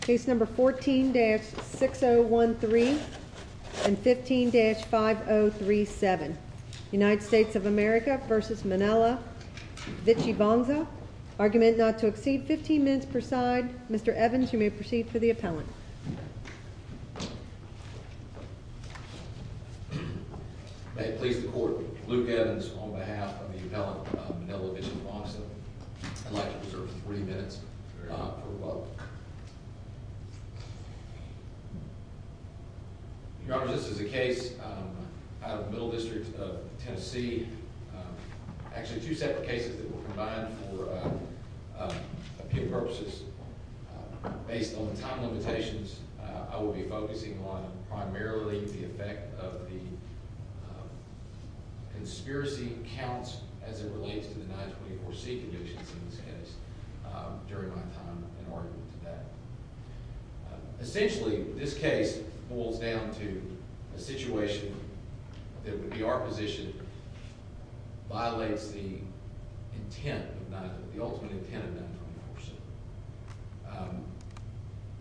Case number 14-6013 and 15-5037 United States of America v. Manila Vichitvongsa Argument not to exceed 15 minutes per side Mr. Evans, you may proceed for the appellant May it please the Court Luke Evans on behalf of the appellant Manila Vichitvongsa I'd like to reserve 40 minutes for rebuttal Your Honor, this is a case out of the Middle District of Tennessee Actually two separate cases that were combined for appeal purposes Based on the time limitations, I will be focusing on primarily the effect of the Conditions in this case during my time in argument today Essentially, this case boils down to a situation that would be our position Violates the intent, the ultimate intent of 924C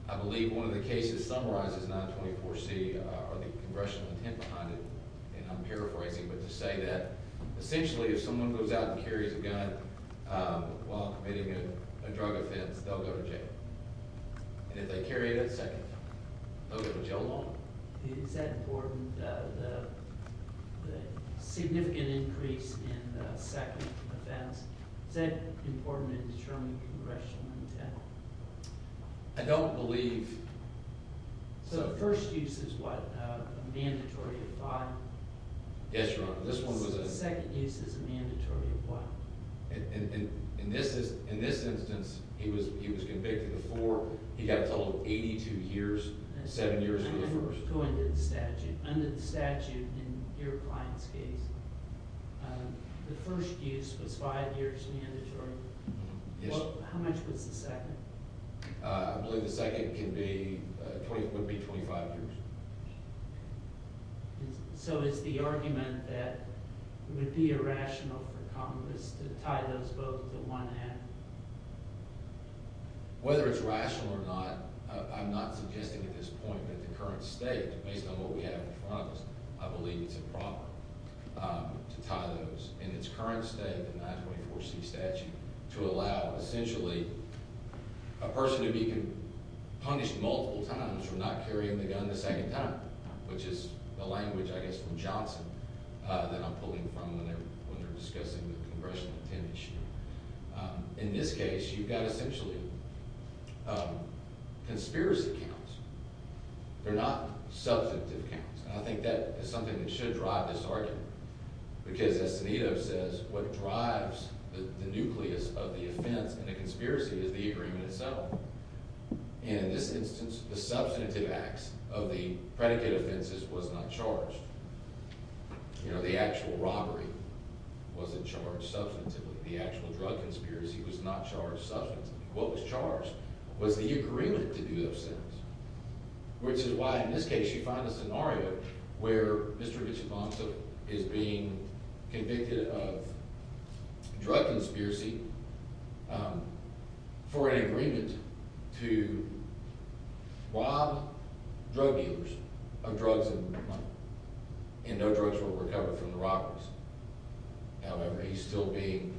I believe one of the cases summarizes 924C or the congressional intent behind it And I'm paraphrasing, but to say that essentially if someone goes out and carries a gun While committing a drug offense, they'll go to jail And if they carry it at second, they'll go to jail longer Is that important, the significant increase in the second offense Is that important in determining congressional intent? I don't believe So the first use is what, a mandatory of five? Yes, Your Honor, this one was a In this instance, he was convicted of four, he got told 82 years, seven years for the first Under the statute in your client's case, the first use was five years mandatory How much was the second? I believe the second would be 25 years So is the argument that it would be irrational for Congress to tie those both to one end? Whether it's rational or not, I'm not suggesting at this point that the current state Based on what we have in front of us, I believe it's improper to tie those In its current state, the 924C statute, to allow essentially a person to be punished multiple times For not carrying the gun the second time, which is the language, I guess, from Johnson That I'm pulling from when they're discussing the congressional intent issue In this case, you've got essentially conspiracy counts They're not substantive counts, and I think that is something that should drive this argument Because, as Sanito says, what drives the nucleus of the offense and the conspiracy is the agreement itself And in this instance, the substantive acts of the predicate offenses was not charged You know, the actual robbery wasn't charged substantively The actual drug conspiracy was not charged substantively What was charged was the agreement to do those things Which is why, in this case, you find a scenario where Mr. Vicibonto is being convicted of drug conspiracy For an agreement to rob drug dealers of drugs and money And no drugs were recovered from the robbers However, he's still being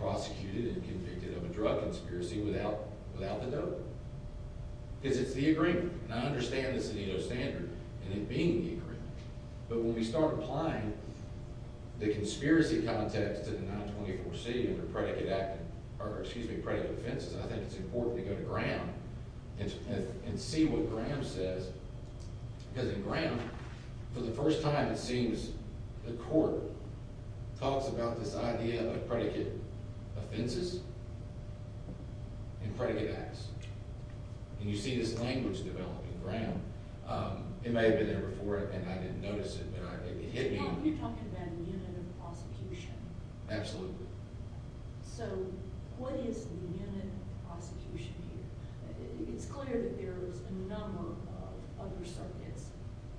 prosecuted and convicted of a drug conspiracy without the dope Because it's the agreement, and I understand the Sanito standard and it being the agreement But when we start applying the conspiracy context to the 924C under predicate offenses I think it's important to go to Graham and see what Graham says Because in Graham, for the first time, it seems the court talks about this idea of predicate offenses and predicate acts And you see this language develop in Graham It may have been there before, and I didn't notice it, but it hit me Now, you're talking about the unit of prosecution Absolutely So, what is the unit of prosecution here? It's clear that there's a number of other circuits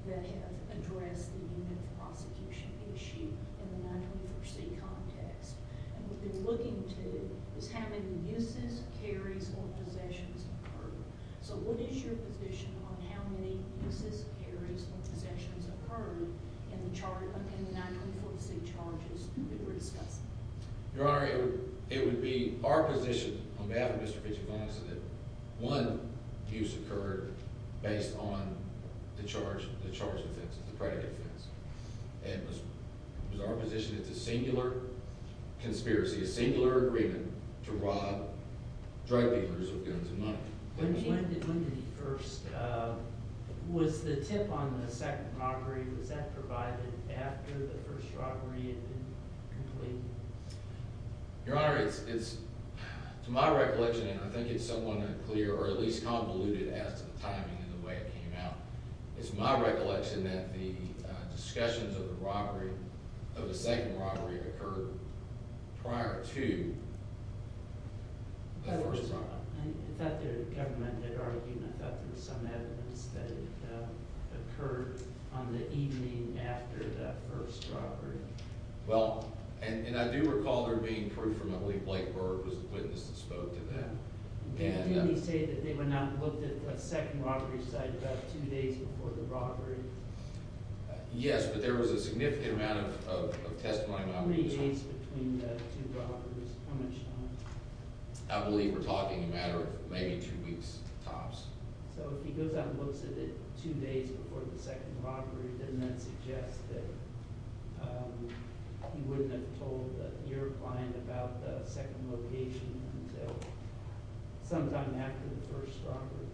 that have addressed the unit of prosecution issue in the 924C context And what they're looking to is how many abuses, carries, or possessions occurred So, what is your position on how many abuses, carries, or possessions occurred in the 924C charges that we're discussing? Your Honor, it would be our position, on behalf of Mr. Pichifantis, that one abuse occurred based on the charge offenses, the predicate offenses And it was our position that the singular conspiracy, a singular agreement to rob drug dealers of guns and money When did the first, was the tip on the second robbery, was that provided after the first robbery had been completed? Your Honor, it's my recollection, and I think it's somewhat unclear, or at least convoluted as to the timing and the way it came out It's my recollection that the discussions of the robbery, of the second robbery, occurred prior to the first robbery Your Honor, I thought the government had argued, I thought there was some evidence that it occurred on the evening after the first robbery Well, and I do recall there being proof from, I believe Blake Berg was the witness that spoke to that Didn't he say that they were not looked at the second robbery site about two days before the robbery? Yes, but there was a significant amount of testimony How many days between the two robberies? How much time? I believe we're talking a matter of maybe two weeks tops So if he goes out and looks at it two days before the second robbery, doesn't that suggest that he wouldn't have told your client about the second location until sometime after the first robbery?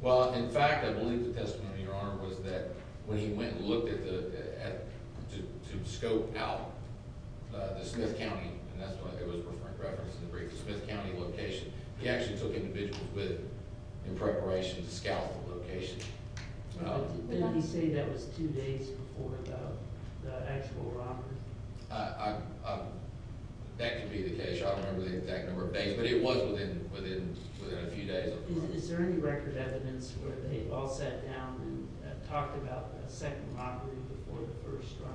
Well, in fact, I believe the testimony, Your Honor, was that when he went and looked to scope out the Smith County, and that's why there was a reference in the brief, the Smith County location He actually took individuals with him in preparation to scout the location Didn't he say that was two days before the actual robbery? That could be the case. I don't remember the exact number of days, but it was within a few days Is there any record evidence where they all sat down and talked about a second robbery before the first robbery?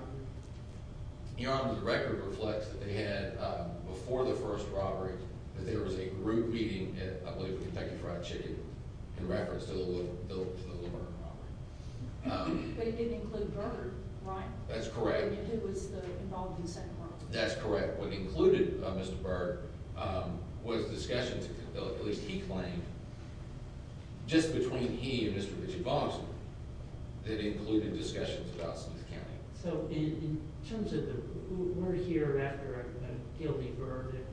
Your Honor, the record reflects that they had, before the first robbery, that there was a group meeting at, I believe, Kentucky Fried Chicken in reference to the Littleton robbery But it didn't include Berg, right? That's correct It was involved in the second robbery That's correct What included Mr. Berg was discussions, at least he claimed, just between he and Mr. Ritchie Boggs that included discussions about Smith County So in terms of the, we're here after a guilty verdict,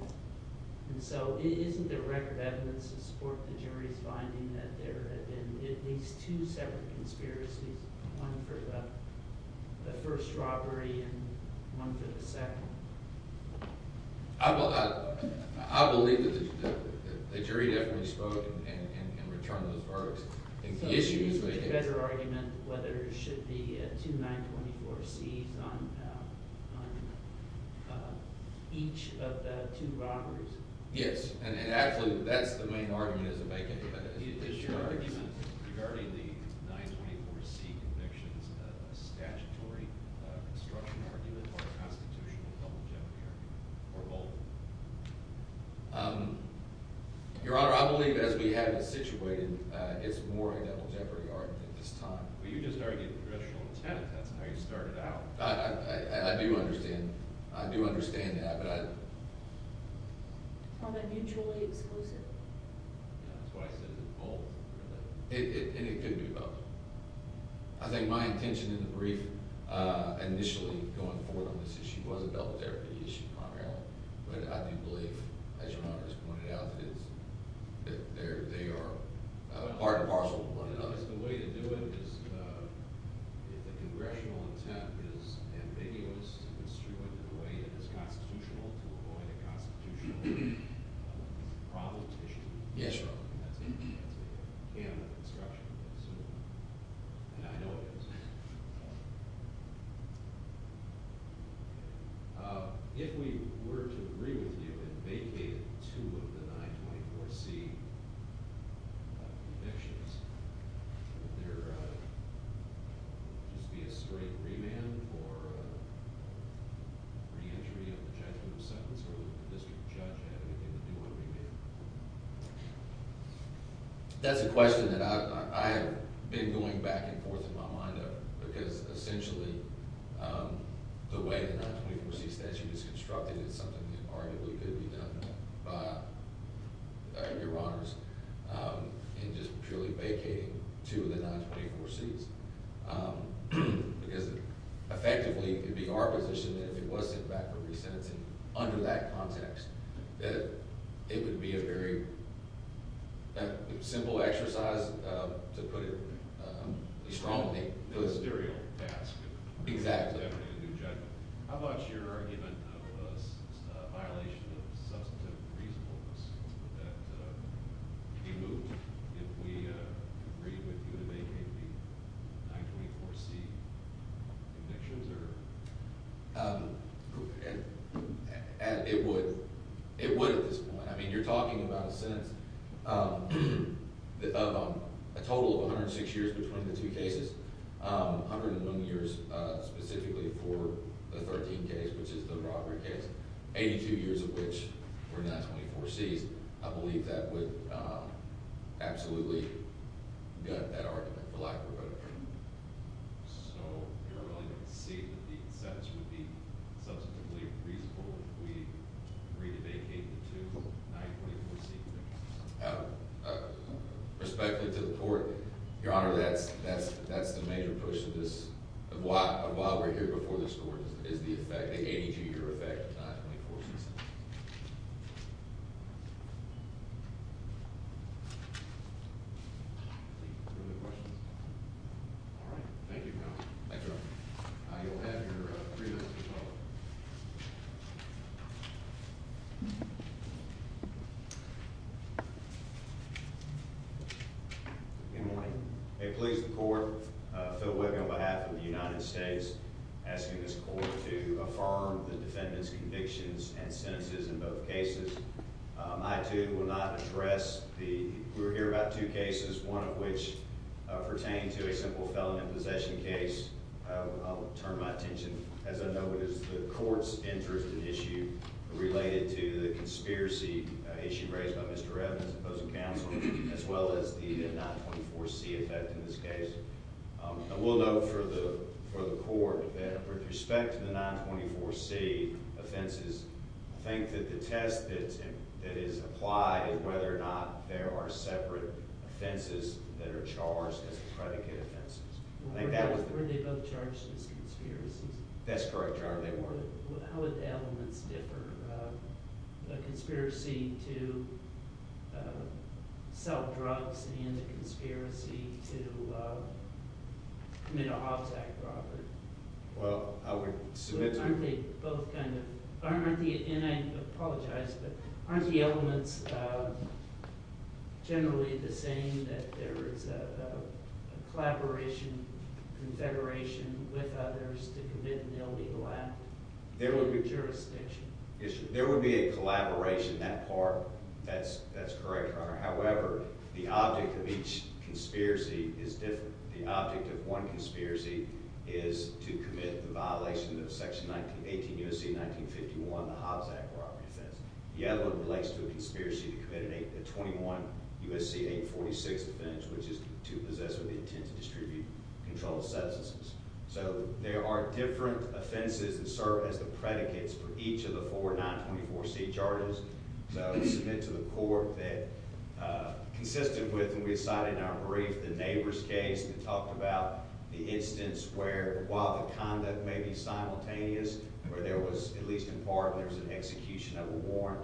and so isn't there record evidence to support the jury's finding that there had been at least two separate conspiracies? One for the first robbery and one for the second I believe that the jury definitely spoke in return for those verdicts So it's usually a better argument whether it should be two 924Cs on each of the two robberies? Yes, and absolutely, that's the main argument as it may get debated Is your argument regarding the 924C convictions a statutory construction argument or a constitutional public health argument, or both? Your Honor, I believe as we have it situated, it's more a double jeopardy argument at this time But you just argued the traditional intent, that's how you started out I do understand, I do understand that, but I On a mutually exclusive Yeah, that's why I said it's both And it could be both I think my intention in the brief initially going forward on this issue was a double jeopardy issue primarily But I do believe, as Your Honor has pointed out, that they are part and parcel of one another The way to do it is if the congressional intent is ambiguous to construe it in a way that is constitutional to avoid a constitutional problem to issue Yes, Your Honor That's the canon of construction, and I know it is If we were to agree with you and vacate two of the 924C convictions, would there just be a straight remand for reentry of the judgment of sentence, or would the district judge have anything to do with a remand? That's a question that I have been going back and forth in my mind over Because essentially the way the 924C statute is constructed is something that arguably could be done by Your Honors In just purely vacating two of the 924Cs Because effectively it would be our position that if it was sent back for resentencing under that context, that it would be a very simple exercise, to put it strongly A ministerial task Exactly How about your argument of a violation of substantive reasonableness? Would that be moved if we agreed with you to vacate the 924C convictions? It would at this point. I mean, you're talking about a sentence of a total of 106 years between the two cases, 101 years specifically for the 13th case, which is the robbery case, 82 years of which were 924Cs I believe that would absolutely gut that argument for lack of a better term So you're willing to see that the sentence would be substantively reasonable if we agreed to vacate the two 924C convictions? Respectfully to the court, Your Honor, that's the major push of this, of why we're here before this court, is the effect, the 80-year effect of 924Cs Any other questions? All right. Thank you, counsel. Thank you, Your Honor. You'll have your three minutes to follow-up Good morning. May it please the court, Phil Wiggum on behalf of the United States, asking this court to affirm the defendant's convictions and sentences in both cases I, too, will not address the – we're here about two cases, one of which pertained to a simple felon in possession case. I'll turn my attention, as I know it, to the court's interest and issue related to the conspiracy issue raised by Mr. Evans opposing counsel, as well as the 924C effect in this case I will note for the court that with respect to the 924C offenses, I think that the test that is applied is whether or not there are separate offenses that are charged as predicate offenses Weren't they both charged as conspiracies? That's correct, Your Honor. How would the elements differ? A conspiracy to sell drugs and a conspiracy to commit a hobs act robbery? Aren't they both kind of – and I apologize, but aren't the elements generally the same, that there is a collaboration, confederation with others to commit an illegal act? There would be a collaboration in that part. That's correct, Your Honor. However, the object of each conspiracy is different. The object of one conspiracy is to commit the violation of Section 18 U.S.C. 1951, the hobs act robbery offense. The other one relates to a conspiracy to commit a 21 U.S.C. 846 offense, which is to possess or intend to distribute controlled substances. So there are different offenses that serve as the predicates for each of the four 924C charges. So I submit to the court that, consistent with what we cited in our brief, the neighbor's case that talked about the instance where, while the conduct may be simultaneous, where there was, at least in part, there was an execution of a warrant,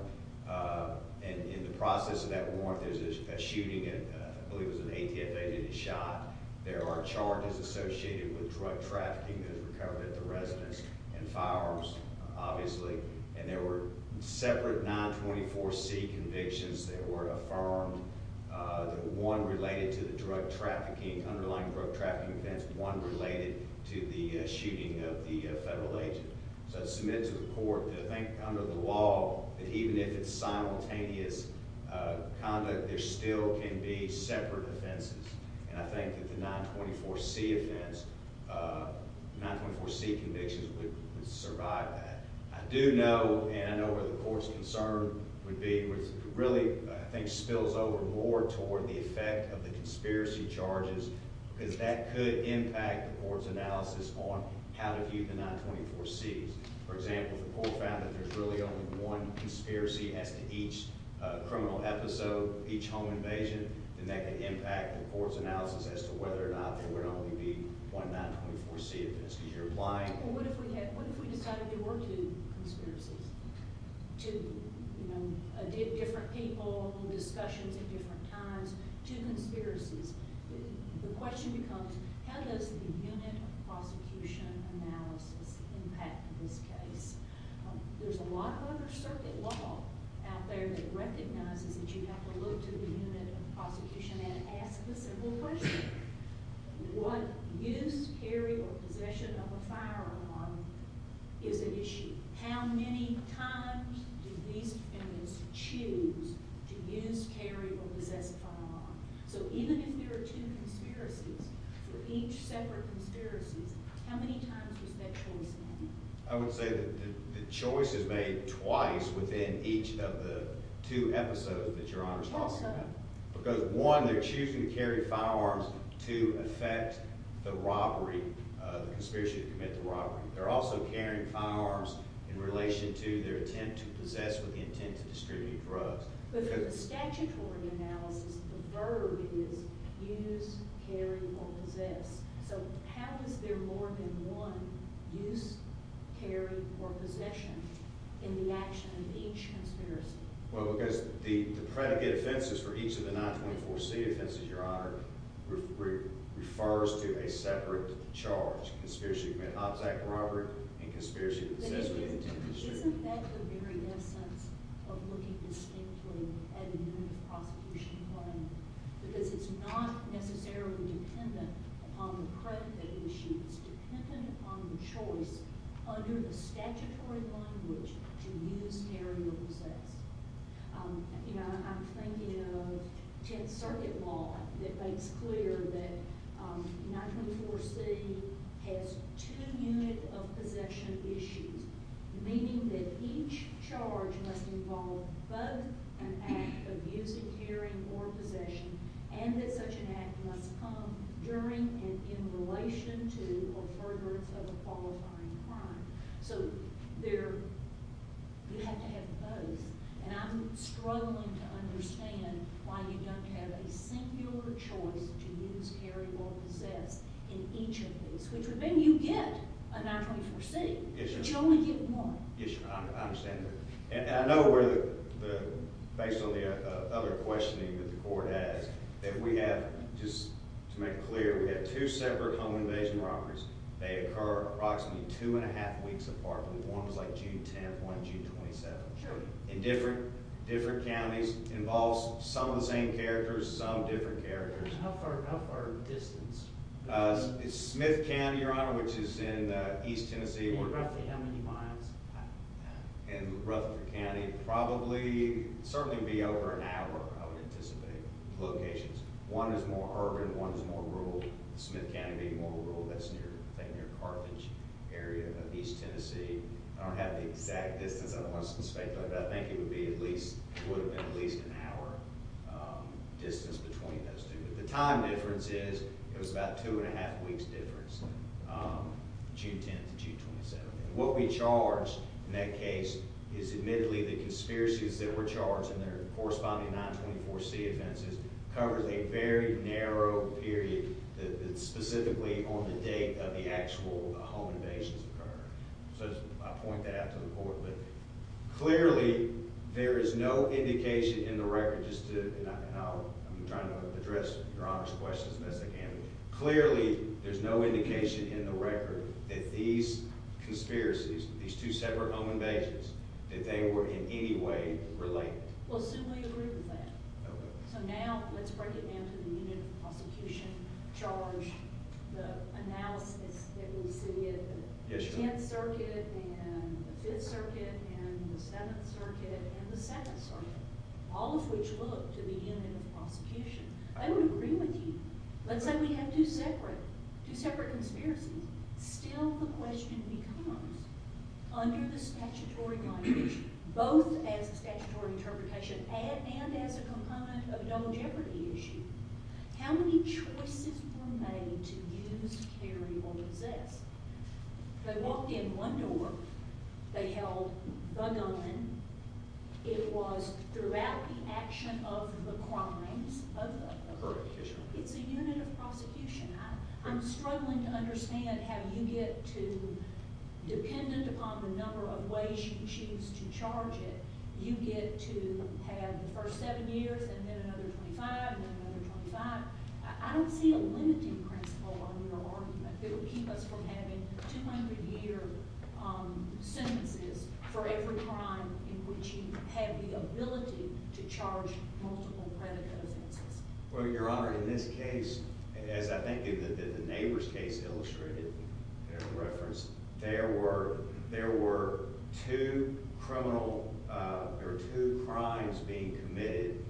and in the process of that warrant, there's a shooting and I believe it was an ATF-aided shot. There are charges associated with drug trafficking that have recovered at the residence and firearms, obviously, and there were separate 924C convictions that were affirmed, one related to the drug trafficking, underlying drug trafficking offense, one related to the shooting of the federal agent. So I submit to the court that I think, under the law, that even if it's simultaneous conduct, there still can be separate offenses, and I think that the 924C offense, the 924C convictions would survive that. I do know, and I know where the court's concern would be, which really, I think, spills over more toward the effect of the conspiracy charges, because that could impact the court's analysis on how to view the 924Cs. For example, if the court found that there's really only one conspiracy as to each criminal episode, each home invasion, then that could impact the court's analysis as to whether or not there would only be one 924C offense. Well, what if we decided there were two conspiracies, two different people, discussions at different times, two conspiracies? The question becomes, how does the unit of prosecution analysis impact this case? There's a lot of other circuit law out there that recognizes that you have to look to the unit of prosecution and ask a simple question. What use, carry, or possession of a firearm is an issue? How many times do these defendants choose to use, carry, or possess a firearm? So even if there are two conspiracies, for each separate conspiracy, how many times was that choice made? I would say that the choice is made twice within each of the two episodes that Your Honor is talking about. Because one, they're choosing to carry firearms to effect the robbery, the conspiracy to commit the robbery. They're also carrying firearms in relation to their attempt to possess with the intent to distribute drugs. But in the statutory analysis, the verb is use, carry, or possess. So how is there more than one use, carry, or possession in the action of each conspiracy? Well, because the predicate offenses for each of the 924C offenses, Your Honor, refers to a separate charge. Conspiracy to commit an object robbery and conspiracy to possess with the intent to distribute. But isn't that the very essence of looking distinctly at a unit of prosecution plan? Because it's not necessarily dependent upon the predicate issues. It's dependent upon the choice under the statutory language to use, carry, or possess. You know, I'm thinking of 10th Circuit law that makes clear that 924C has two unit of possession issues. Meaning that each charge must involve both an act of using, carrying, or possession. And that such an act must come during and in relation to a furtherance of a qualifying crime. So you have to have both. And I'm struggling to understand why you don't have a singular choice to use, carry, or possess in each of these. Which would mean you get a 924C, but you only get one. Yes, Your Honor. I understand that. And I know where the, based on the other questioning that the court has, that we have, just to make it clear, we have two separate home invasion robberies. They occur approximately two and a half weeks apart. One was like June 10th, one June 27th. Sure. In different, different counties. Involves some of the same characters, some different characters. How far, how far in distance? Smith County, Your Honor, which is in East Tennessee. Roughly how many miles? In Rutherford County, probably, certainly would be over an hour, I would anticipate, locations. One is more urban, one is more rural. Smith County being more rural, that's near, I think near Carthage area. East Tennessee, I don't have the exact distance, I don't want to speculate, but I think it would be at least, would have been at least an hour distance between those two. But the time difference is, it was about two and a half weeks difference, June 10th to June 27th. And what we charged in that case is, admittedly, the conspiracies that were charged and their corresponding 924C offenses covered a very narrow period, specifically on the date of the actual home invasions occurred. So I point that out to the court. Clearly, there is no indication in the record, just to, and I'm trying to address Your Honor's questions as best I can. Clearly, there's no indication in the record that these conspiracies, these two separate home invasions, that they were in any way related. Well, Sue, we agree with that. So now, let's break it down to the unit of prosecution charge. The analysis that we see at the 10th Circuit and the 5th Circuit and the 7th Circuit and the 2nd Circuit, all of which look to be in the prosecution. I would agree with you. Let's say we have two separate conspiracies. Still, the question becomes, under the statutory language, both as a statutory interpretation and as a component of a double jeopardy issue, how many choices were made to use, carry, or possess? They walked in one door. They held the gun. It was throughout the action of the crimes of the perpetrator. It's a unit of prosecution. I'm struggling to understand how you get to, dependent upon the number of ways you choose to charge it, you get to have the first seven years and then another 25 and then another 25. I don't see a limiting principle on your argument. It would keep us from having 200-year sentences for every crime in which you have the ability to charge multiple predator offenses. Well, Your Honor, in this case, as I think the neighbor's case illustrated, there were two crimes being committed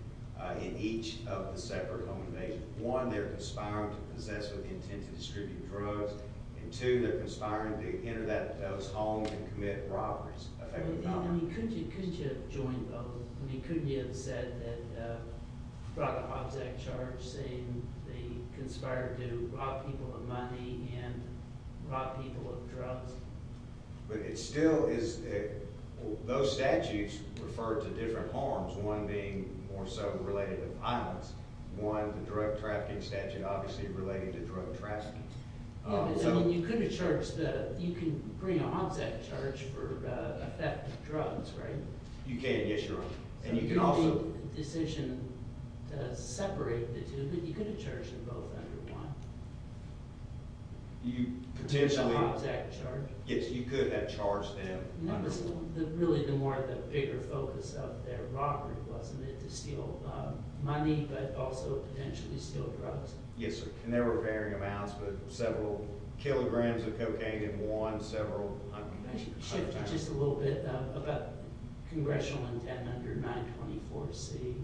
in each of the separate home invasions. One, they're conspiring to possess with the intent to distribute drugs, and two, they're conspiring to enter those homes and commit robberies. I mean, couldn't you have joined both? Couldn't you have brought the Hobbs Act charge, saying they conspired to rob people of money and rob people of drugs? But it still is – those statutes refer to different harms, one being more so related to violence. One, the drug trafficking statute, obviously related to drug trafficking. You could have charged the – you can bring a Hobbs Act charge for the theft of drugs, right? You can, yes, Your Honor. So you could have made the decision to separate the two, but you could have charged them both under one. You potentially – The Hobbs Act charge. Yes, you could have charged them under one. Really, the more the bigger focus of their robbery wasn't it, to steal money, but also potentially steal drugs. Yes, and there were varying amounts, but several kilograms of cocaine in one, several hundred. Can I shift just a little bit about congressional intent under 924C?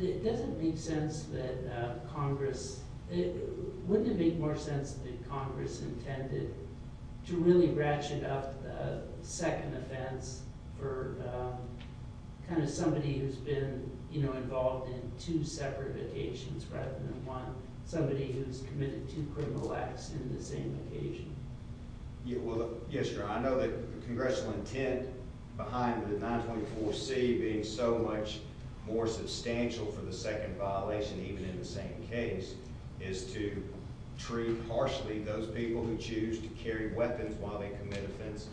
It doesn't make sense that Congress – wouldn't it make more sense that Congress intended to really ratchet up the second offense for kind of somebody who's been involved in two separate occasions rather than one, somebody who's committed two criminal acts in the same occasion? Well, yes, Your Honor. I know that congressional intent behind the 924C being so much more substantial for the second violation, even in the same case, is to treat harshly those people who choose to carry weapons while they commit offenses.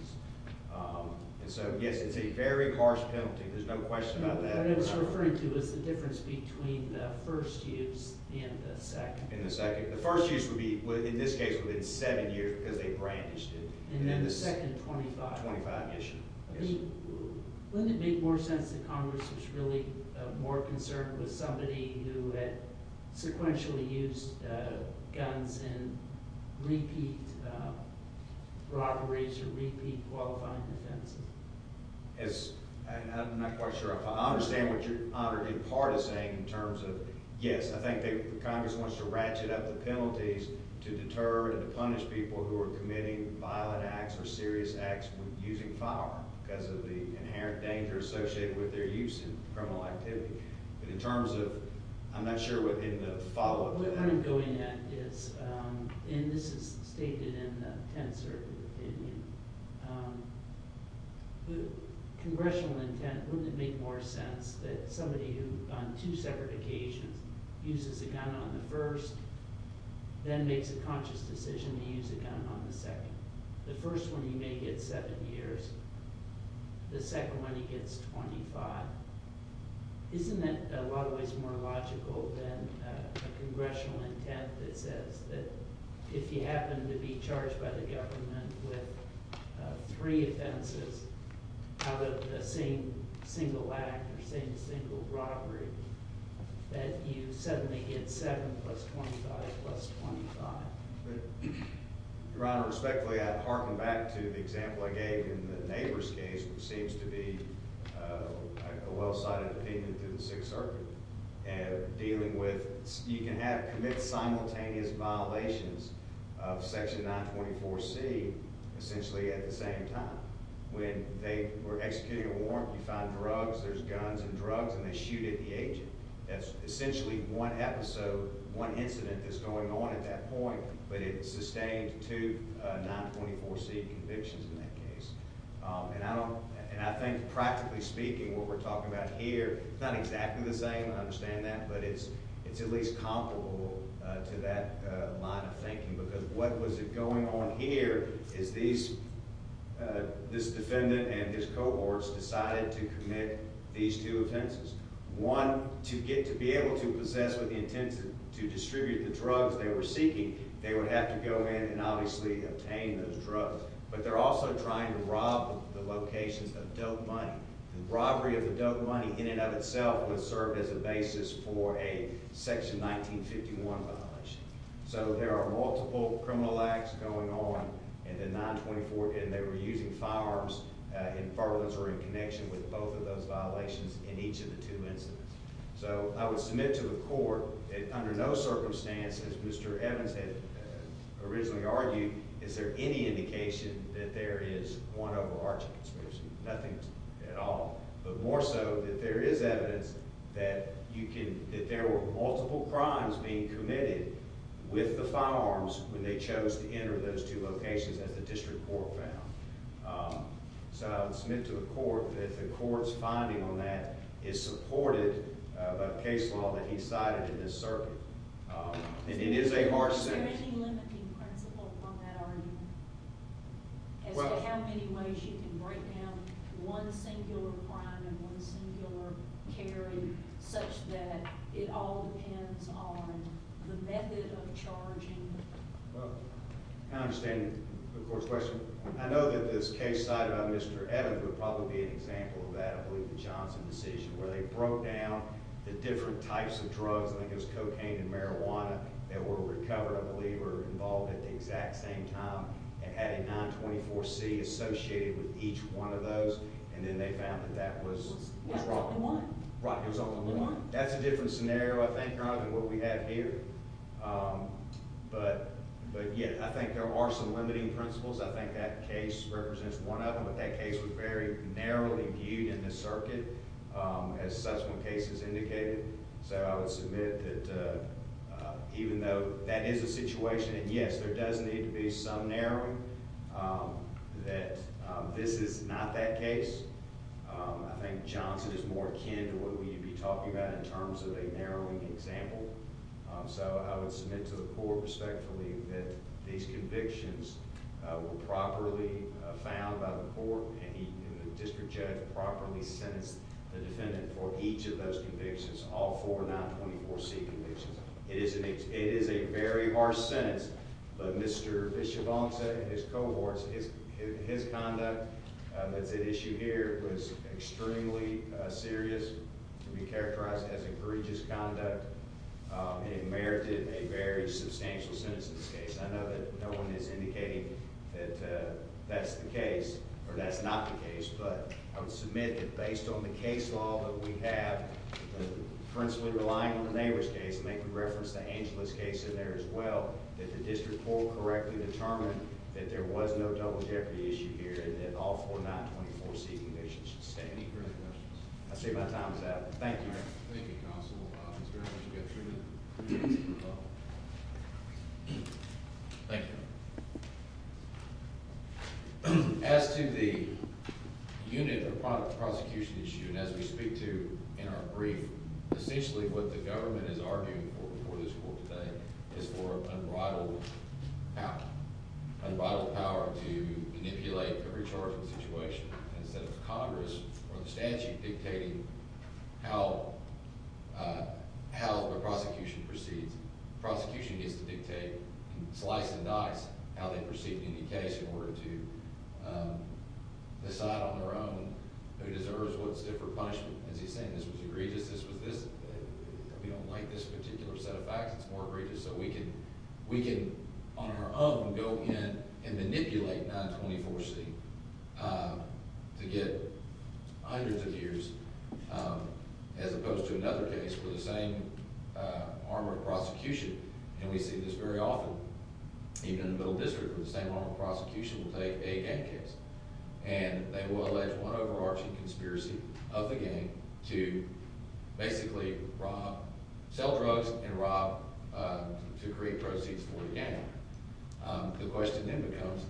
And so, yes, it's a very harsh penalty. There's no question about that. What I was referring to was the difference between the first use and the second. The first use would be, in this case, within seven years because they brandished it. And then the second, 25. 25, yes, Your Honor. Wouldn't it make more sense that Congress was really more concerned with somebody who had sequentially used guns in repeat robberies or repeat qualifying offenses? I'm not quite sure. I understand what Your Honor did part of saying in terms of, yes, I think Congress wants to ratchet up the penalties to deter and to punish people who are committing violent acts or serious acts using fire because of the inherent danger associated with their use in criminal activity. But in terms of, I'm not sure what the follow-up is. What I'm going at is, and this is stated in the Tenth Circuit opinion, congressional intent, wouldn't it make more sense that somebody who, on two separate occasions, uses a gun on the first, then makes a conscious decision to use a gun on the second? The first one, he may get seven years. The second one, he gets 25. Isn't that in a lot of ways more logical than a congressional intent that says that if you happen to be charged by the government with three offenses out of the same single act or same single robbery, that you suddenly get seven plus 25 plus 25? Your Honor, respectfully, I'd harken back to the example I gave in the Nabors case, which seems to be a well-cited opinion through the Sixth Circuit, dealing with you can commit simultaneous violations of Section 924C essentially at the same time. When they were executing a warrant, you find drugs, there's guns and drugs, and they shoot at the agent. That's essentially one incident that's going on at that point, but it sustained two 924C convictions in that case. I think, practically speaking, what we're talking about here, it's not exactly the same, I understand that, but it's at least comparable to that line of thinking because what was going on here is this defendant and his cohorts decided to commit these two offenses. One, to get to be able to possess with the intent to distribute the drugs they were seeking, they would have to go in and obviously obtain those drugs. But they're also trying to rob the locations of dope money. The robbery of the dope money, in and of itself, would serve as a basis for a Section 1951 violation. So there are multiple criminal acts going on in the 924, and they were using firearms in burglars or in connection with both of those violations in each of the two incidents. So I would submit to the court that under no circumstances, as Mr. Evans had originally argued, is there any indication that there is one overarching conspiracy? Nothing at all, but more so that there is evidence that there were multiple crimes being committed with the firearms when they chose to enter those two locations, as the district court found. So I would submit to the court that the court's finding on that is supported by the case law that he cited in this circuit. And it is a harsh sentence. Is there any limiting principle from that argument? As to how many ways you can break down one singular crime and one singular carry such that it all depends on the method of charging? Well, I understand the court's question. I know that this case cited by Mr. Evans would probably be an example of that. I believe the Johnson decision where they broke down the different types of drugs, I think it was cocaine and marijuana, that were recovered, I believe, or involved at the exact same time and had a 924C associated with each one of those, and then they found that that was rock and roll. Rock was on the one. Rock was on the one. That's a different scenario, I think, rather than what we have here. But, yeah, I think there are some limiting principles. I think that case represents one of them, but that case was very narrowly viewed in this circuit as such when cases indicated. So I would submit that even though that is a situation, and, yes, there does need to be some narrowing, that this is not that case. I think Johnson is more akin to what we'd be talking about in terms of a narrowing example. So I would submit to the court, respectfully, that these convictions were properly found by the court and the district judge properly sentenced the defendant for each of those convictions, all four 924C convictions. It is a very harsh sentence, but Mr. Vichebonce and his cohorts, his conduct, that's at issue here, was extremely serious, to be characterized as a courageous conduct, and it merited a very substantial sentence in this case. I know that no one is indicating that that's the case or that's not the case, but I would submit that based on the case law that we have, principally relying on the Nabors case, and they can reference the Angelus case in there as well, that the district court correctly determined that there was no double jeopardy issue here and that all four 924C convictions should stay. Any further questions? I see my time is up. Thank you. Thank you, counsel. It's very much a good treatment. Thank you. As to the unit of prosecution issue, and as we speak to in our brief, essentially what the government is arguing for before this court today is for unbridled power, unbridled power to manipulate the recharging situation instead of Congress or the statute dictating how the prosecution proceeds. The prosecution gets to dictate, slice and dice, how they proceed in any case in order to decide on their own who deserves what stiff or punishment. As he's saying, this was egregious, this was this. We don't like this particular set of facts. It's more egregious. So we can, on our own, go in and manipulate 924C to get hundreds of years, as opposed to another case where the same arm of prosecution, and we see this very often, even in the middle district, where the same arm of prosecution will take a gang case, and they will allege one overarching conspiracy of the gang to basically sell drugs and rob to create proceeds for the gang. The question then becomes,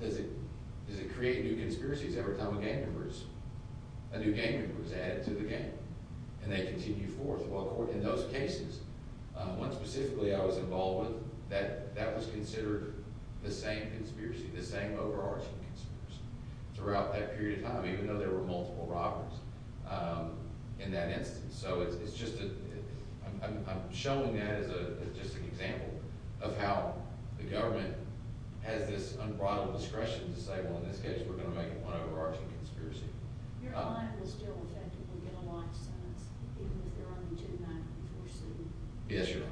does it create new conspiracies every time a gang member is added to the gang? And they continue forth. Well, in those cases, one specifically I was involved with, that was considered the same conspiracy, the same overarching conspiracy, throughout that period of time, even though there were multiple robbers in that instance. So I'm showing that as just an example of how the government has this unbridled discretion to say, well, in this case, we're going to make one overarching conspiracy. Your line will still effectively get a life sentence, even if there are only 294C convictions, correct? Yes, Your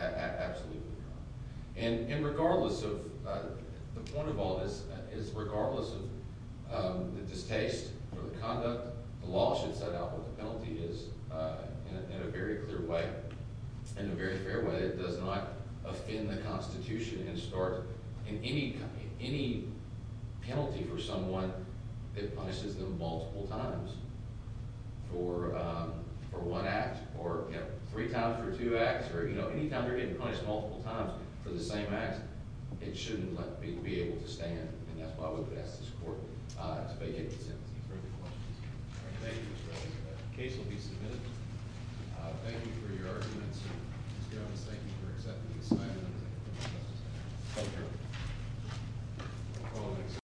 Honor. Absolutely, Your Honor. And regardless of, the point of all this is, regardless of the distaste for the conduct, the law should set out what the penalty is in a very clear way, in a very fair way. It does not offend the Constitution and start any penalty for someone that punishes them multiple times for one act, or three times for two acts, or any time they're getting punished multiple times for the same act, it shouldn't let me be able to stand. And that's why we would ask this Court to make any sentencing. Are there any questions? Thank you, Mr. Reyes. The case will be submitted. Thank you for your arguments. Mr. Evans, thank you for accepting the assignment. Thank you.